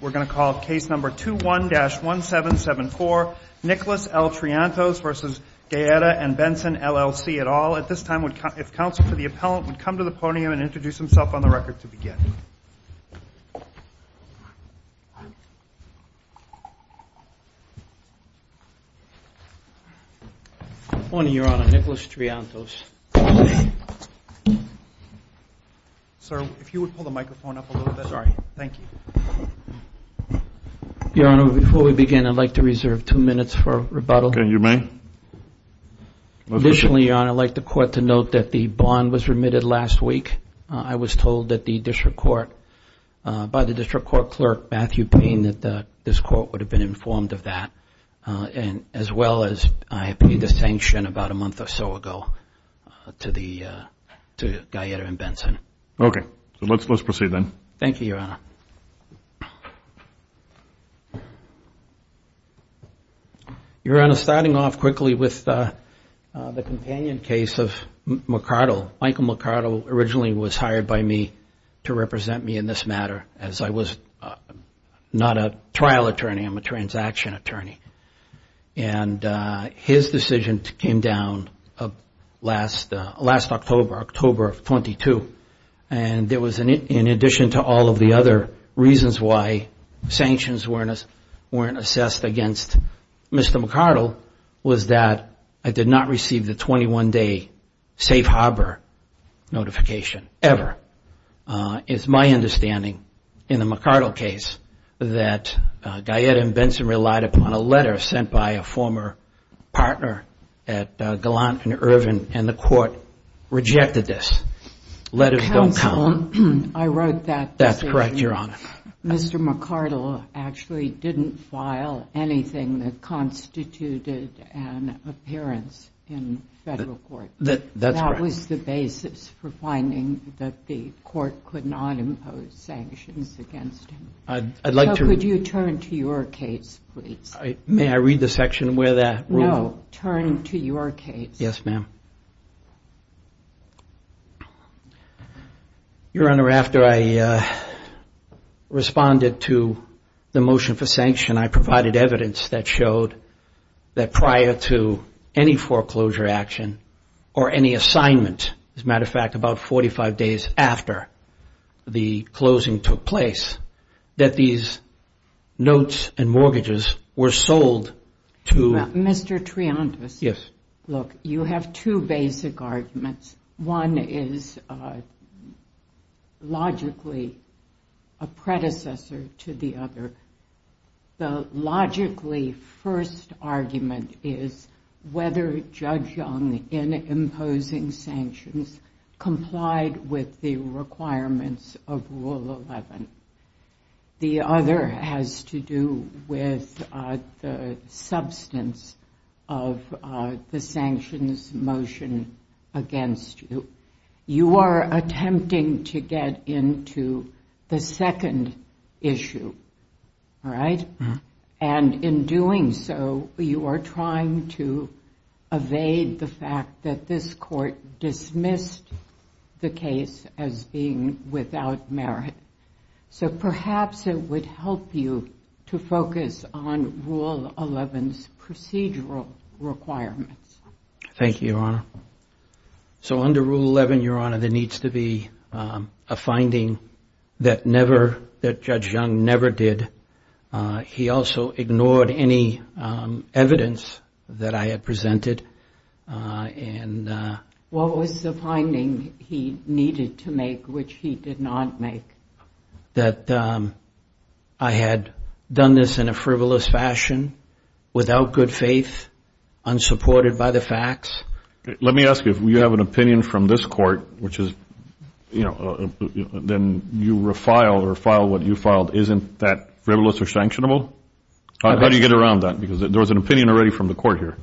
Case No. 21-1774 Nicholas L. Triantos v. Guaetta & Benson, LLC Your Honor, before we begin, I'd like to reserve two minutes for rebuttal. Okay, you may. Additionally, Your Honor, I'd like the Court to note that the bond was remitted last week. I was told by the District Court Clerk, Matthew Payne, that this Court would have been informed of that, as well as I appealed the sanction about a month or so ago to Guaetta & Benson. Okay. Let's proceed then. Thank you, Your Honor. Your Honor, starting off quickly with the companion case of McCardell. Michael McCardell originally was hired by me to represent me in this matter, as I was not a trial attorney. I'm a transaction attorney. His decision came down last October, October 22. In addition to all of the other reasons why sanctions weren't assessed against Mr. McCardell, was that I did not receive the 21-day safe harbor notification, ever. It's my understanding, in the McCardell case, that Guaetta & Benson relied upon a letter sent by a former partner at Gallant & Irvin, and the Court rejected this. Letters don't count. Counsel, I wrote that decision. That's correct, Your Honor. Mr. McCardell actually didn't file anything that constituted an appearance in federal court. That's correct. That's the basis for finding that the Court could not impose sanctions against him. I'd like to— So could you turn to your case, please? May I read the section where that rule— No, turn to your case. Yes, ma'am. Your Honor, after I responded to the motion for sanction, and I provided evidence that showed that prior to any foreclosure action or any assignment, as a matter of fact, about 45 days after the closing took place, that these notes and mortgages were sold to— Mr. Triantis. Yes. Look, you have two basic arguments. One is logically a predecessor to the other. The logically first argument is whether Judge Young, in imposing sanctions, complied with the requirements of Rule 11. The other has to do with the substance of the sanctions motion against you. You are attempting to get into the second issue, right? And in doing so, you are trying to evade the fact that this Court dismissed the case as being without merit. So perhaps it would help you to focus on Rule 11's procedural requirements. Thank you, Your Honor. So under Rule 11, Your Honor, there needs to be a finding that Judge Young never did. He also ignored any evidence that I had presented. And— What was the finding he needed to make, which he did not make? That I had done this in a frivolous fashion, without good faith, unsupported by the facts. Let me ask you, if you have an opinion from this Court, which is, you know, then you refile or file what you filed, isn't that frivolous or sanctionable? How do you get around that? Because there was an opinion already from the Court here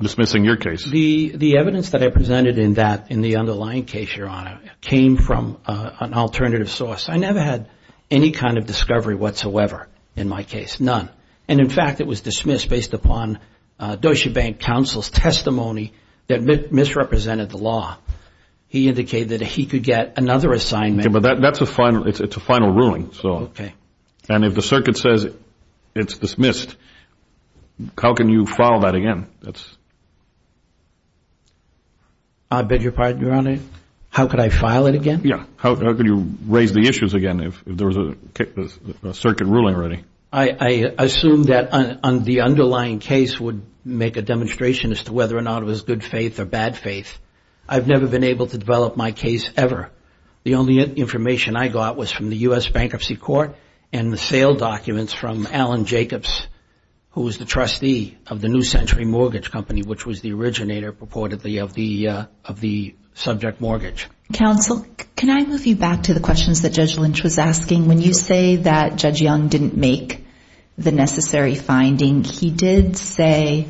dismissing your case. The evidence that I presented in that, in the underlying case, Your Honor, came from an alternative source. I never had any kind of discovery whatsoever in my case, none. And in fact, it was dismissed based upon Deutsche Bank counsel's testimony that misrepresented the law. He indicated that he could get another assignment. But that's a final—it's a final ruling. Okay. And if the Circuit says it's dismissed, how can you file that again? That's— I beg your pardon, Your Honor? How could I file it again? Yeah. How could you raise the issues again if there was a Circuit ruling already? I assumed that the underlying case would make a demonstration as to whether or not it was good faith or bad faith. I've never been able to develop my case ever. The only information I got was from the U.S. Bankruptcy Court and the sale documents from Alan Jacobs, who was the trustee of the New Century Mortgage Company, which was the originator, purportedly, of the subject mortgage. Counsel, can I move you back to the questions that Judge Lynch was asking? When you say that Judge Young didn't make the necessary finding, he did say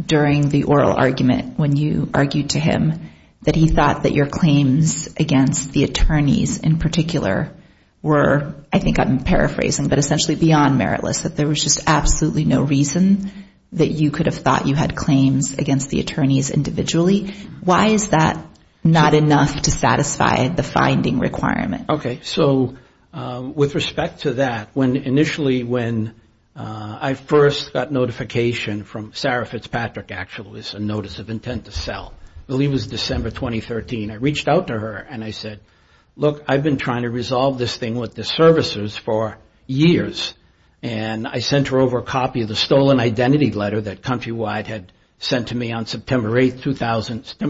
during the oral argument, when you argued to him, that he thought that your claims against the attorneys in particular were, I think I'm paraphrasing, but essentially beyond meritless, that there was just absolutely no reason that you could have thought you had claims against the attorneys individually. Why is that not enough to satisfy the finding requirement? Okay. So with respect to that, initially when I first got notification from Sarah Fitzpatrick, actually it was a notice of intent to sell, I believe it was December 2013, I reached out to her and I said, look, I've been trying to resolve this thing with the services for years. And I sent her over a copy of the stolen identity letter that Countrywide had sent to me on September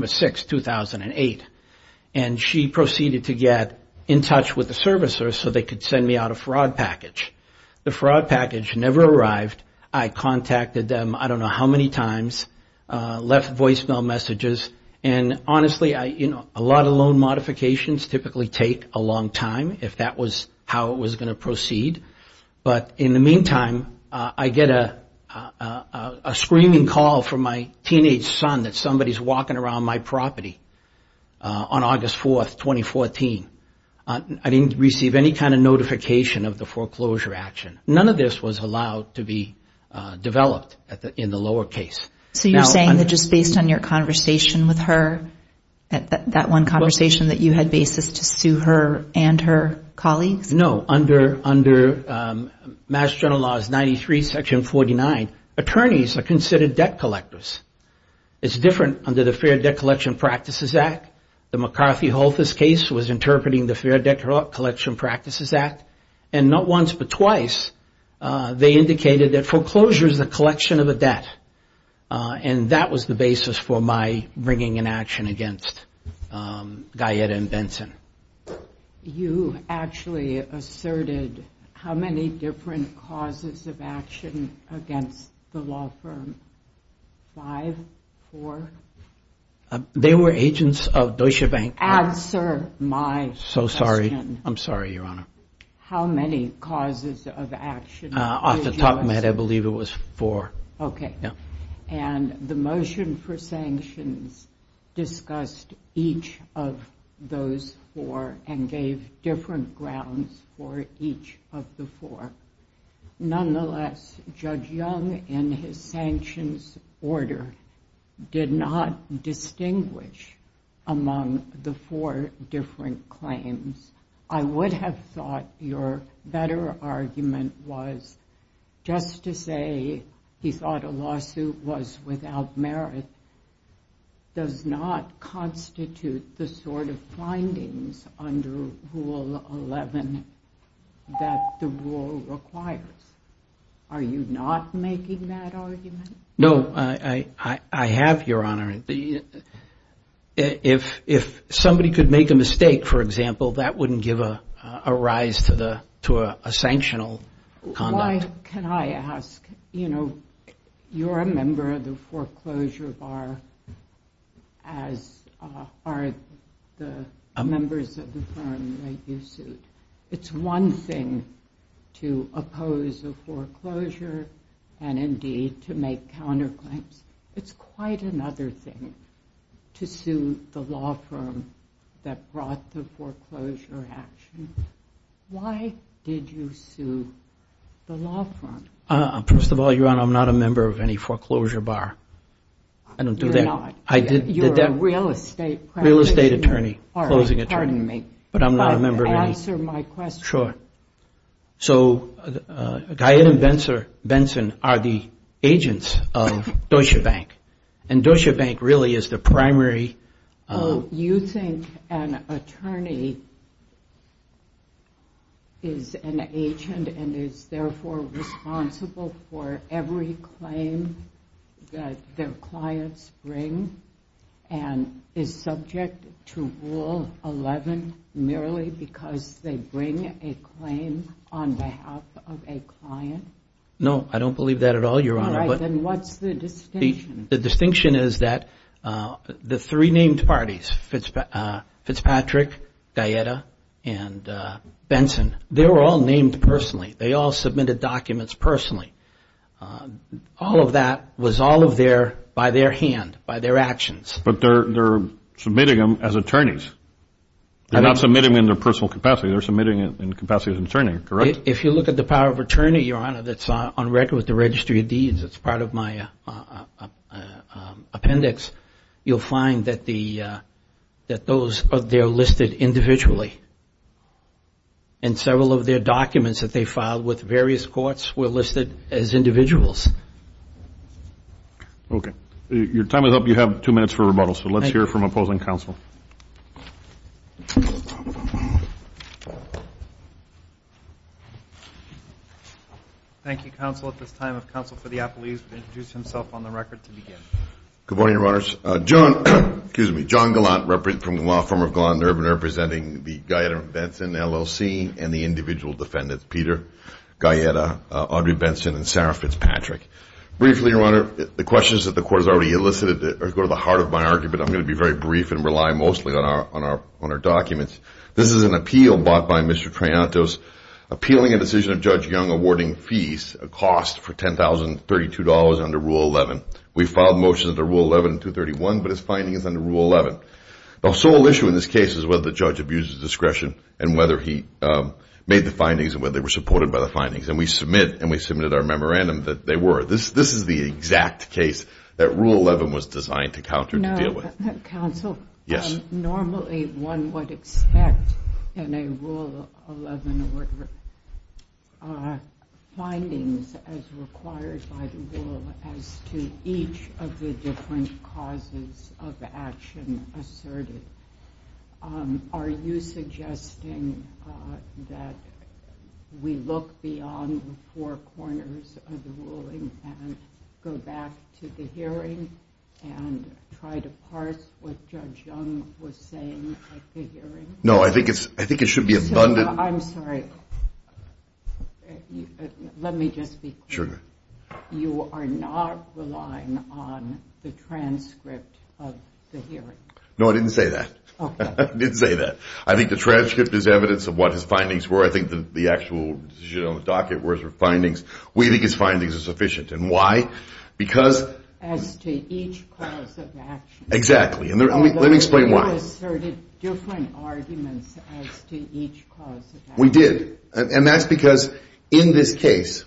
6, 2008. And she proceeded to get in touch with the servicers so they could send me out a fraud package. The fraud package never arrived. I contacted them I don't know how many times, left voicemail messages. And honestly, a lot of loan modifications typically take a long time if that was how it was going to proceed. But in the meantime, I get a screaming call from my teenage son that somebody is walking around my property on August 4, 2014. I didn't receive any kind of notification of the foreclosure action. None of this was allowed to be developed in the lower case. So you're saying that just based on your conversation with her, that one conversation that you had basis to sue her and her colleagues? No, under Mass General Laws 93, Section 49, attorneys are considered debt collectors. It's different under the Fair Debt Collection Practices Act. The McCarthy-Halthus case was interpreting the Fair Debt Collection Practices Act. And not once but twice, they indicated that foreclosure is the collection of a debt. And that was the basis for my bringing an action against Guyetta and Benson. You actually asserted how many different causes of action against the law firm? Five? Four? They were agents of Deutsche Bank. Answer my question. So sorry. I'm sorry, Your Honor. How many causes of action did you assert? Off the top of my head, I believe it was four. And the motion for sanctions discussed each of those four and gave different grounds for each of the four. Nonetheless, Judge Young, in his sanctions order, did not distinguish among the four different claims. I would have thought your better argument was just to say he thought a lawsuit was without merit does not constitute the sort of findings under Rule 11 that the rule requires. Are you not making that argument? No, I have, Your Honor. If somebody could make a mistake, for example, that wouldn't give a rise to a sanctional conduct. Why can I ask? You know, you're a member of the foreclosure bar as are the members of the firm that you sued. It's one thing to oppose a foreclosure and indeed to make counterclaims. It's quite another thing to sue the law firm that brought the foreclosure action. Why did you sue the law firm? First of all, Your Honor, I'm not a member of any foreclosure bar. I don't do that. You're not. You're a real estate practitioner. Real estate attorney, closing attorney. All right, pardon me. But answer my question. Sure. So, Guy and Benson are the agents of Deutsche Bank. And Deutsche Bank really is the primary... You think an attorney is an agent and is therefore responsible for every claim that their clients bring and is subject to Rule 11 merely because they bring a claim on behalf of a client? No, I don't believe that at all, Your Honor. All right, then what's the distinction? The distinction is that the three named parties, Fitzpatrick, Gaeta, and Benson, they were all named personally. They all submitted documents personally. All of that was all by their hand, by their actions. But they're submitting them as attorneys. They're not submitting them in their personal capacity. They're submitting in capacity as an attorney, correct? If you look at the power of attorney, Your Honor, that's on record with the Registry of Deeds, it's part of my appendix, you'll find that those are listed individually. And several of their documents that they filed with various courts were listed as individuals. Okay. Your time is up. You have two minutes for rebuttal. So let's hear from opposing counsel. Thank you, counsel. At this time, if counsel for the appellees would introduce himself on the record to begin. Good morning, Your Honors. John Gallant from the law firm of Gallant and Urban representing the Gaeta and Benson LLC and the individual defendants, Peter, Gaeta, Audrey Benson, and Sarah Fitzpatrick. Briefly, Your Honor, the questions that the court has already elicited go to the heart of my argument. I'm going to be very brief and rely mostly on our documents. This is an appeal bought by Mr. Triantos appealing a decision of Judge Young awarding fees, a cost for $10,032 under Rule 11. We filed motions under Rule 11 and 231, but his finding is under Rule 11. The sole issue in this case is whether the judge abused his discretion and whether he made the findings and whether they were supported by the findings. And we submit, and we submitted our memorandum that they were. This is the exact case that Rule 11 was designed to counter to deal with. Counsel, normally one would expect in a Rule 11 order findings as required by the rule as to each of the different causes of action asserted. Are you suggesting that we look beyond the four corners of the ruling and go back to the hearing and try to parse what Judge Young was saying at the hearing? No, I think it should be abundant. I'm sorry. Let me just be clear. Sure. You are not relying on the transcript of the hearing? No, I didn't say that. Okay. I didn't say that. I think the transcript is evidence of what his findings were. I think the actual decision on the docket were his findings. We think his findings are sufficient. And why? As to each cause of action. Exactly. And let me explain why. He asserted different arguments as to each cause of action. We did. And that's because in this case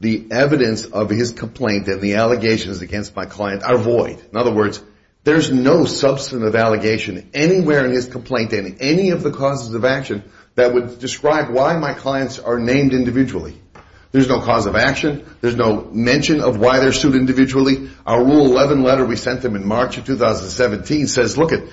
the evidence of his complaint and the allegations against my client are void. In other words, there's no substantive allegation anywhere in his complaint and any of the causes of action that would describe why my clients are named individually. There's no cause of action. There's no mention of why they're sued individually. Our Rule 11 letter we sent them in March of 2017 says, look it,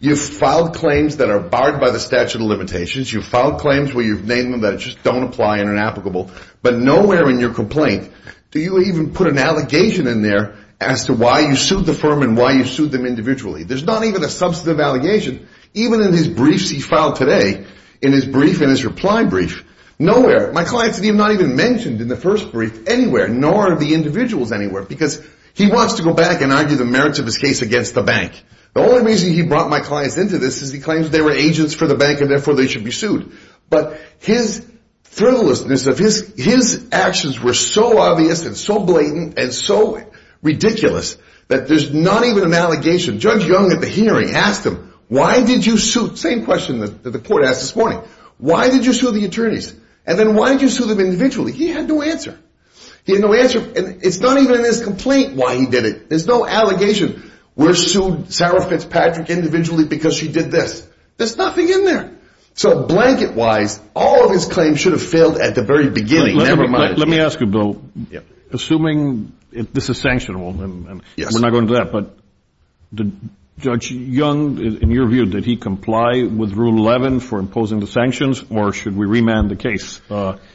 you've filed claims that are barred by the statute of limitations. You've filed claims where you've named them that just don't apply and are inapplicable. But nowhere in your complaint do you even put an allegation in there as to why you sued the firm and why you sued them individually. There's not even a substantive allegation. Even in his briefs he filed today, in his brief and his reply brief, nowhere. My clients are not even mentioned in the first brief anywhere, nor are the individuals anywhere. Because he wants to go back and argue the merits of his case against the bank. The only reason he brought my clients into this is he claims they were agents for the bank and therefore they should be sued. But his frivolousness of his actions were so obvious and so blatant and so ridiculous that there's not even an allegation. Judge Young at the hearing asked him, why did you sue? Same question that the court asked this morning. Why did you sue the attorneys? And then why did you sue them individually? He had no answer. He had no answer. And it's not even in his complaint why he did it. There's no allegation. We're sued Sarah Fitzpatrick individually because she did this. There's nothing in there. So blanket-wise, all of his claims should have failed at the very beginning. Never mind. Let me ask you, Bill. Assuming this is sanctionable, and we're not going into that, but Judge Young, in your view, did he comply with Rule 11 for imposing the sanctions or should we remand the case?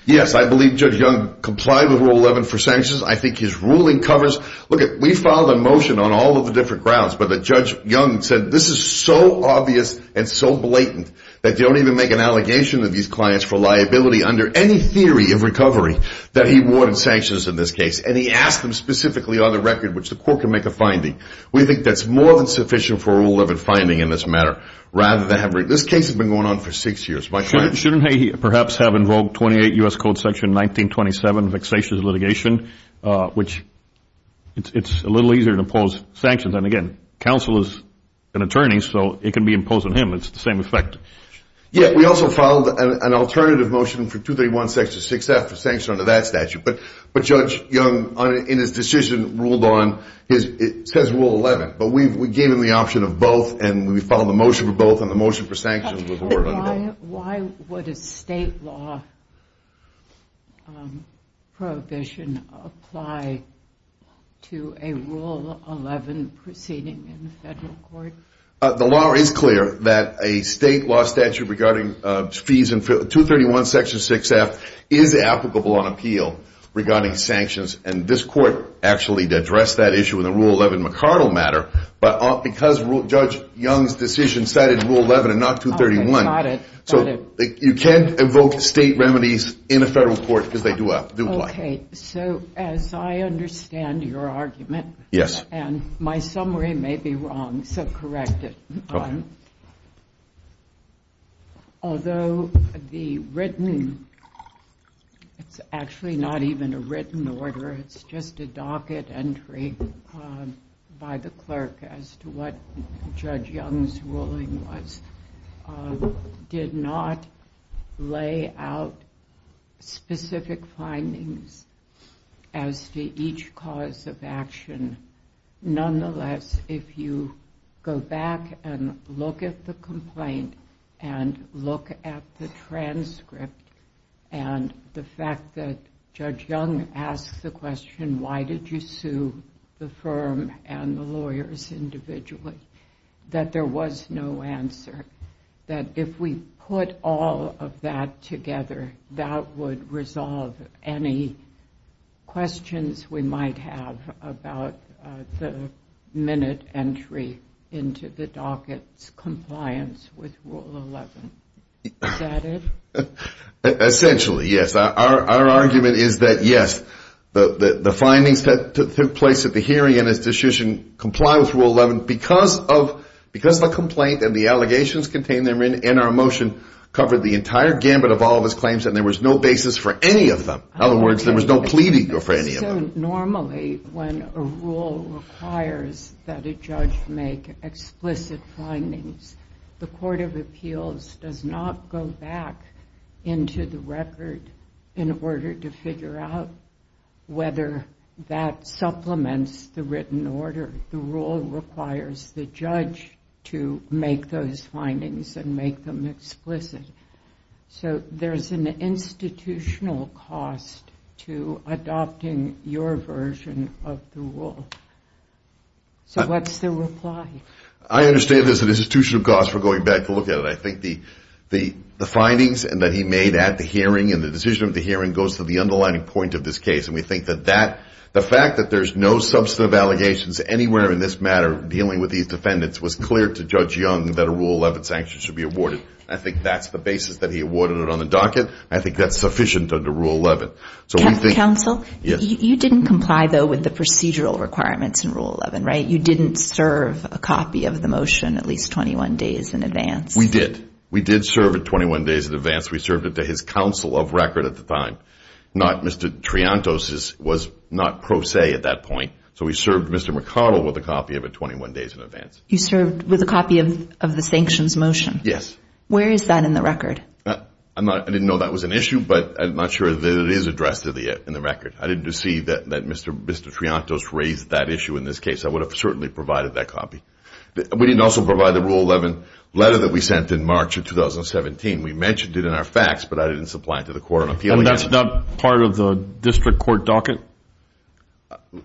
Yes, I believe Judge Young complied with Rule 11 for sanctions. I think his ruling covers. Look, we filed a motion on all of the different grounds, but Judge Young said this is so obvious and so blatant that they don't even make an allegation to these clients for liability under any theory of recovery that he wanted sanctions in this case. And he asked them specifically on the record, which the court can make a finding. We think that's more than sufficient for a Rule 11 finding in this matter. This case has been going on for six years. Shouldn't he perhaps have invoked 28 U.S. Code Section 1927, vexatious litigation, which it's a little easier to impose sanctions? And, again, counsel is an attorney, so it can be imposed on him. It's the same effect. Yes, we also filed an alternative motion for 231 Section 6F for sanctions under that statute. But Judge Young, in his decision, ruled on his Rule 11. But we gave him the option of both, and we filed a motion for both, and the motion for sanctions was ruled on both. Why would a state law prohibition apply to a Rule 11 proceeding in the federal court? The law is clear that a state law statute regarding fees in 231 Section 6F is applicable on appeal regarding sanctions. And this court actually addressed that issue in the Rule 11 McArdle matter. But because Judge Young's decision cited Rule 11 and not 231, you can't invoke state remedies in a federal court because they do lie. Okay, so as I understand your argument, and my summary may be wrong, so correct it. Okay. Although the written, it's actually not even a written order, it's just a docket entry by the clerk as to what Judge Young's ruling was, did not lay out specific findings as to each cause of action. Nonetheless, if you go back and look at the complaint and look at the transcript and the fact that Judge Young asked the question, why did you sue the firm and the lawyers individually, that there was no answer. That if we put all of that together, that would resolve any questions we might have about the minute entry into the docket's compliance with Rule 11. Is that it? Essentially, yes. Our argument is that, yes, the findings that took place at the hearing and its decision comply with Rule 11 because the complaint and the allegations contained therein in our motion covered the entire gambit of all of his claims, and there was no basis for any of them. In other words, there was no pleading for any of them. Normally, when a rule requires that a judge make explicit findings, the Court of Appeals does not go back into the record in order to figure out whether that supplements the written order. The rule requires the judge to make those findings and make them explicit. So there's an institutional cost to adopting your version of the rule. So what's the reply? I understand there's an institutional cost for going back to look at it. I think the findings that he made at the hearing and the decision of the hearing goes to the underlying point of this case, and we think that the fact that there's no substantive allegations anywhere in this matter dealing with these defendants was clear to Judge Young that a Rule 11 sanction should be awarded. I think that's the basis that he awarded it on the docket. I think that's sufficient under Rule 11. Counsel, you didn't comply, though, with the procedural requirements in Rule 11, right? You didn't serve a copy of the motion at least 21 days in advance. We did. We did serve it 21 days in advance. We served it to his counsel of record at the time, not Mr. Triantos's, was not pro se at that point. So we served Mr. McConnell with a copy of it 21 days in advance. You served with a copy of the sanctions motion. Yes. Where is that in the record? I didn't know that was an issue, but I'm not sure that it is addressed in the record. I didn't see that Mr. Triantos raised that issue in this case. I would have certainly provided that copy. We didn't also provide the Rule 11 letter that we sent in March of 2017. We mentioned it in our facts, but I didn't supply it to the court of appeal yet. That's not part of the district court docket?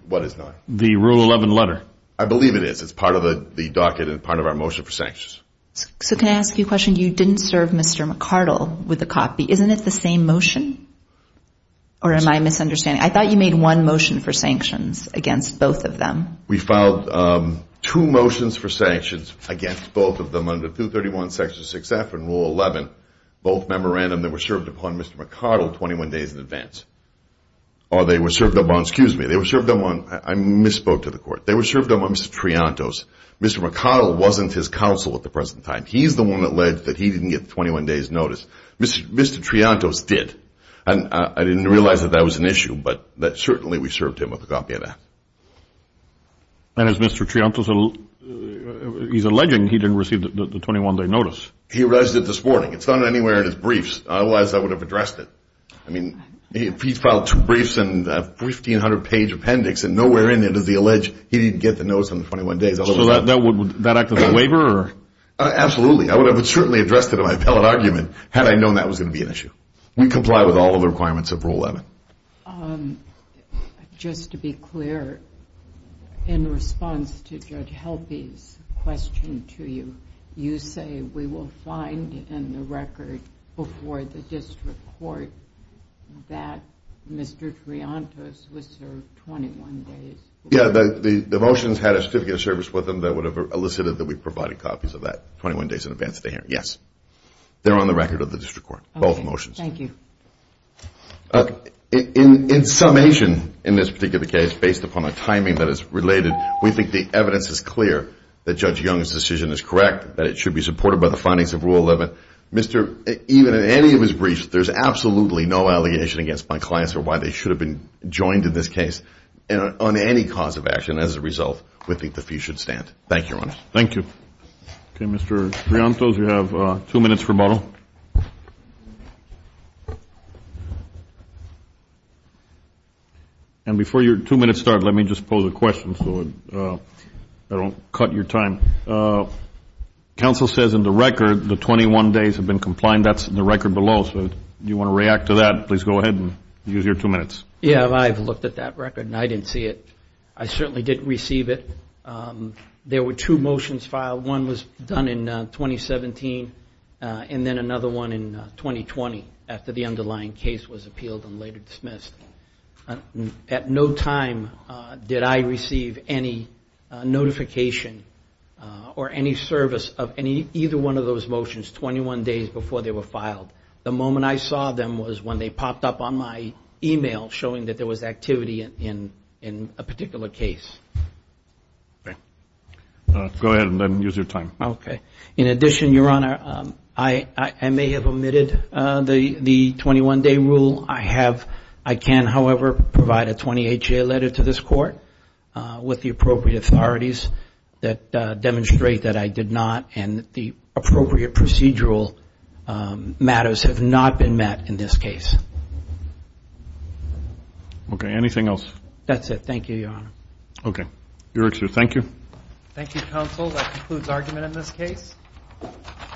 What is not? The Rule 11 letter. I believe it is. It's part of the docket and part of our motion for sanctions. So can I ask you a question? You didn't serve Mr. McArdle with a copy. Isn't it the same motion? Or am I misunderstanding? I thought you made one motion for sanctions against both of them. We filed two motions for sanctions against both of them under 231 Section 6F and Rule 11, both memorandum that were served upon Mr. McArdle 21 days in advance. Or they were served upon, excuse me, they were served upon, I misspoke to the court, they were served upon Mr. Triantos. Mr. McArdle wasn't his counsel at the present time. He's the one that alleged that he didn't get the 21 days notice. Mr. Triantos did. And I didn't realize that that was an issue, but certainly we served him with a copy of that. And is Mr. Triantos, he's alleging he didn't receive the 21-day notice. He realized it this morning. It's not anywhere in his briefs, otherwise I would have addressed it. I mean, he filed two briefs and a 1,500-page appendix, and nowhere in it does he allege he didn't get the notice on the 21 days. So that would act as a waiver? Absolutely. I would have certainly addressed it in my appellate argument had I known that was going to be an issue. We comply with all of the requirements of Rule 11. Just to be clear, in response to Judge Helpe's question to you, you say we will find in the record before the district court that Mr. Triantos was served 21 days. Yeah, the motions had a certificate of service with them that would have elicited that we provided copies of that 21 days in advance of the hearing. Yes. They're on the record of the district court, both motions. Thank you. In summation, in this particular case, based upon the timing that is related, we think the evidence is clear that Judge Young's decision is correct, that it should be supported by the findings of Rule 11. Even in any of his briefs, there's absolutely no allegation against my clients or why they should have been joined in this case on any cause of action. As a result, we think the fee should stand. Thank you, Your Honor. Thank you. Okay, Mr. Triantos, you have two minutes rebuttal. And before your two minutes start, let me just pose a question so I don't cut your time. Counsel says in the record the 21 days have been complied. That's in the record below. So if you want to react to that, please go ahead and use your two minutes. Yeah, I've looked at that record, and I didn't see it. I certainly didn't receive it. There were two motions filed. One was done in 2017, and then another one in 2020, after the underlying case was appealed and later dismissed. At no time did I receive any notification or any service of either one of those motions 21 days before they were filed. The moment I saw them was when they popped up on my email showing that there was activity in a particular case. Okay. Go ahead and then use your time. Okay. In addition, Your Honor, I may have omitted the 21-day rule. I can, however, provide a 28-day letter to this court with the appropriate authorities that demonstrate that I did not and that the appropriate procedural matters have not been met in this case. Okay. Anything else? That's it. Thank you, Your Honor. Okay. You're excused. Thank you. Thank you, counsel.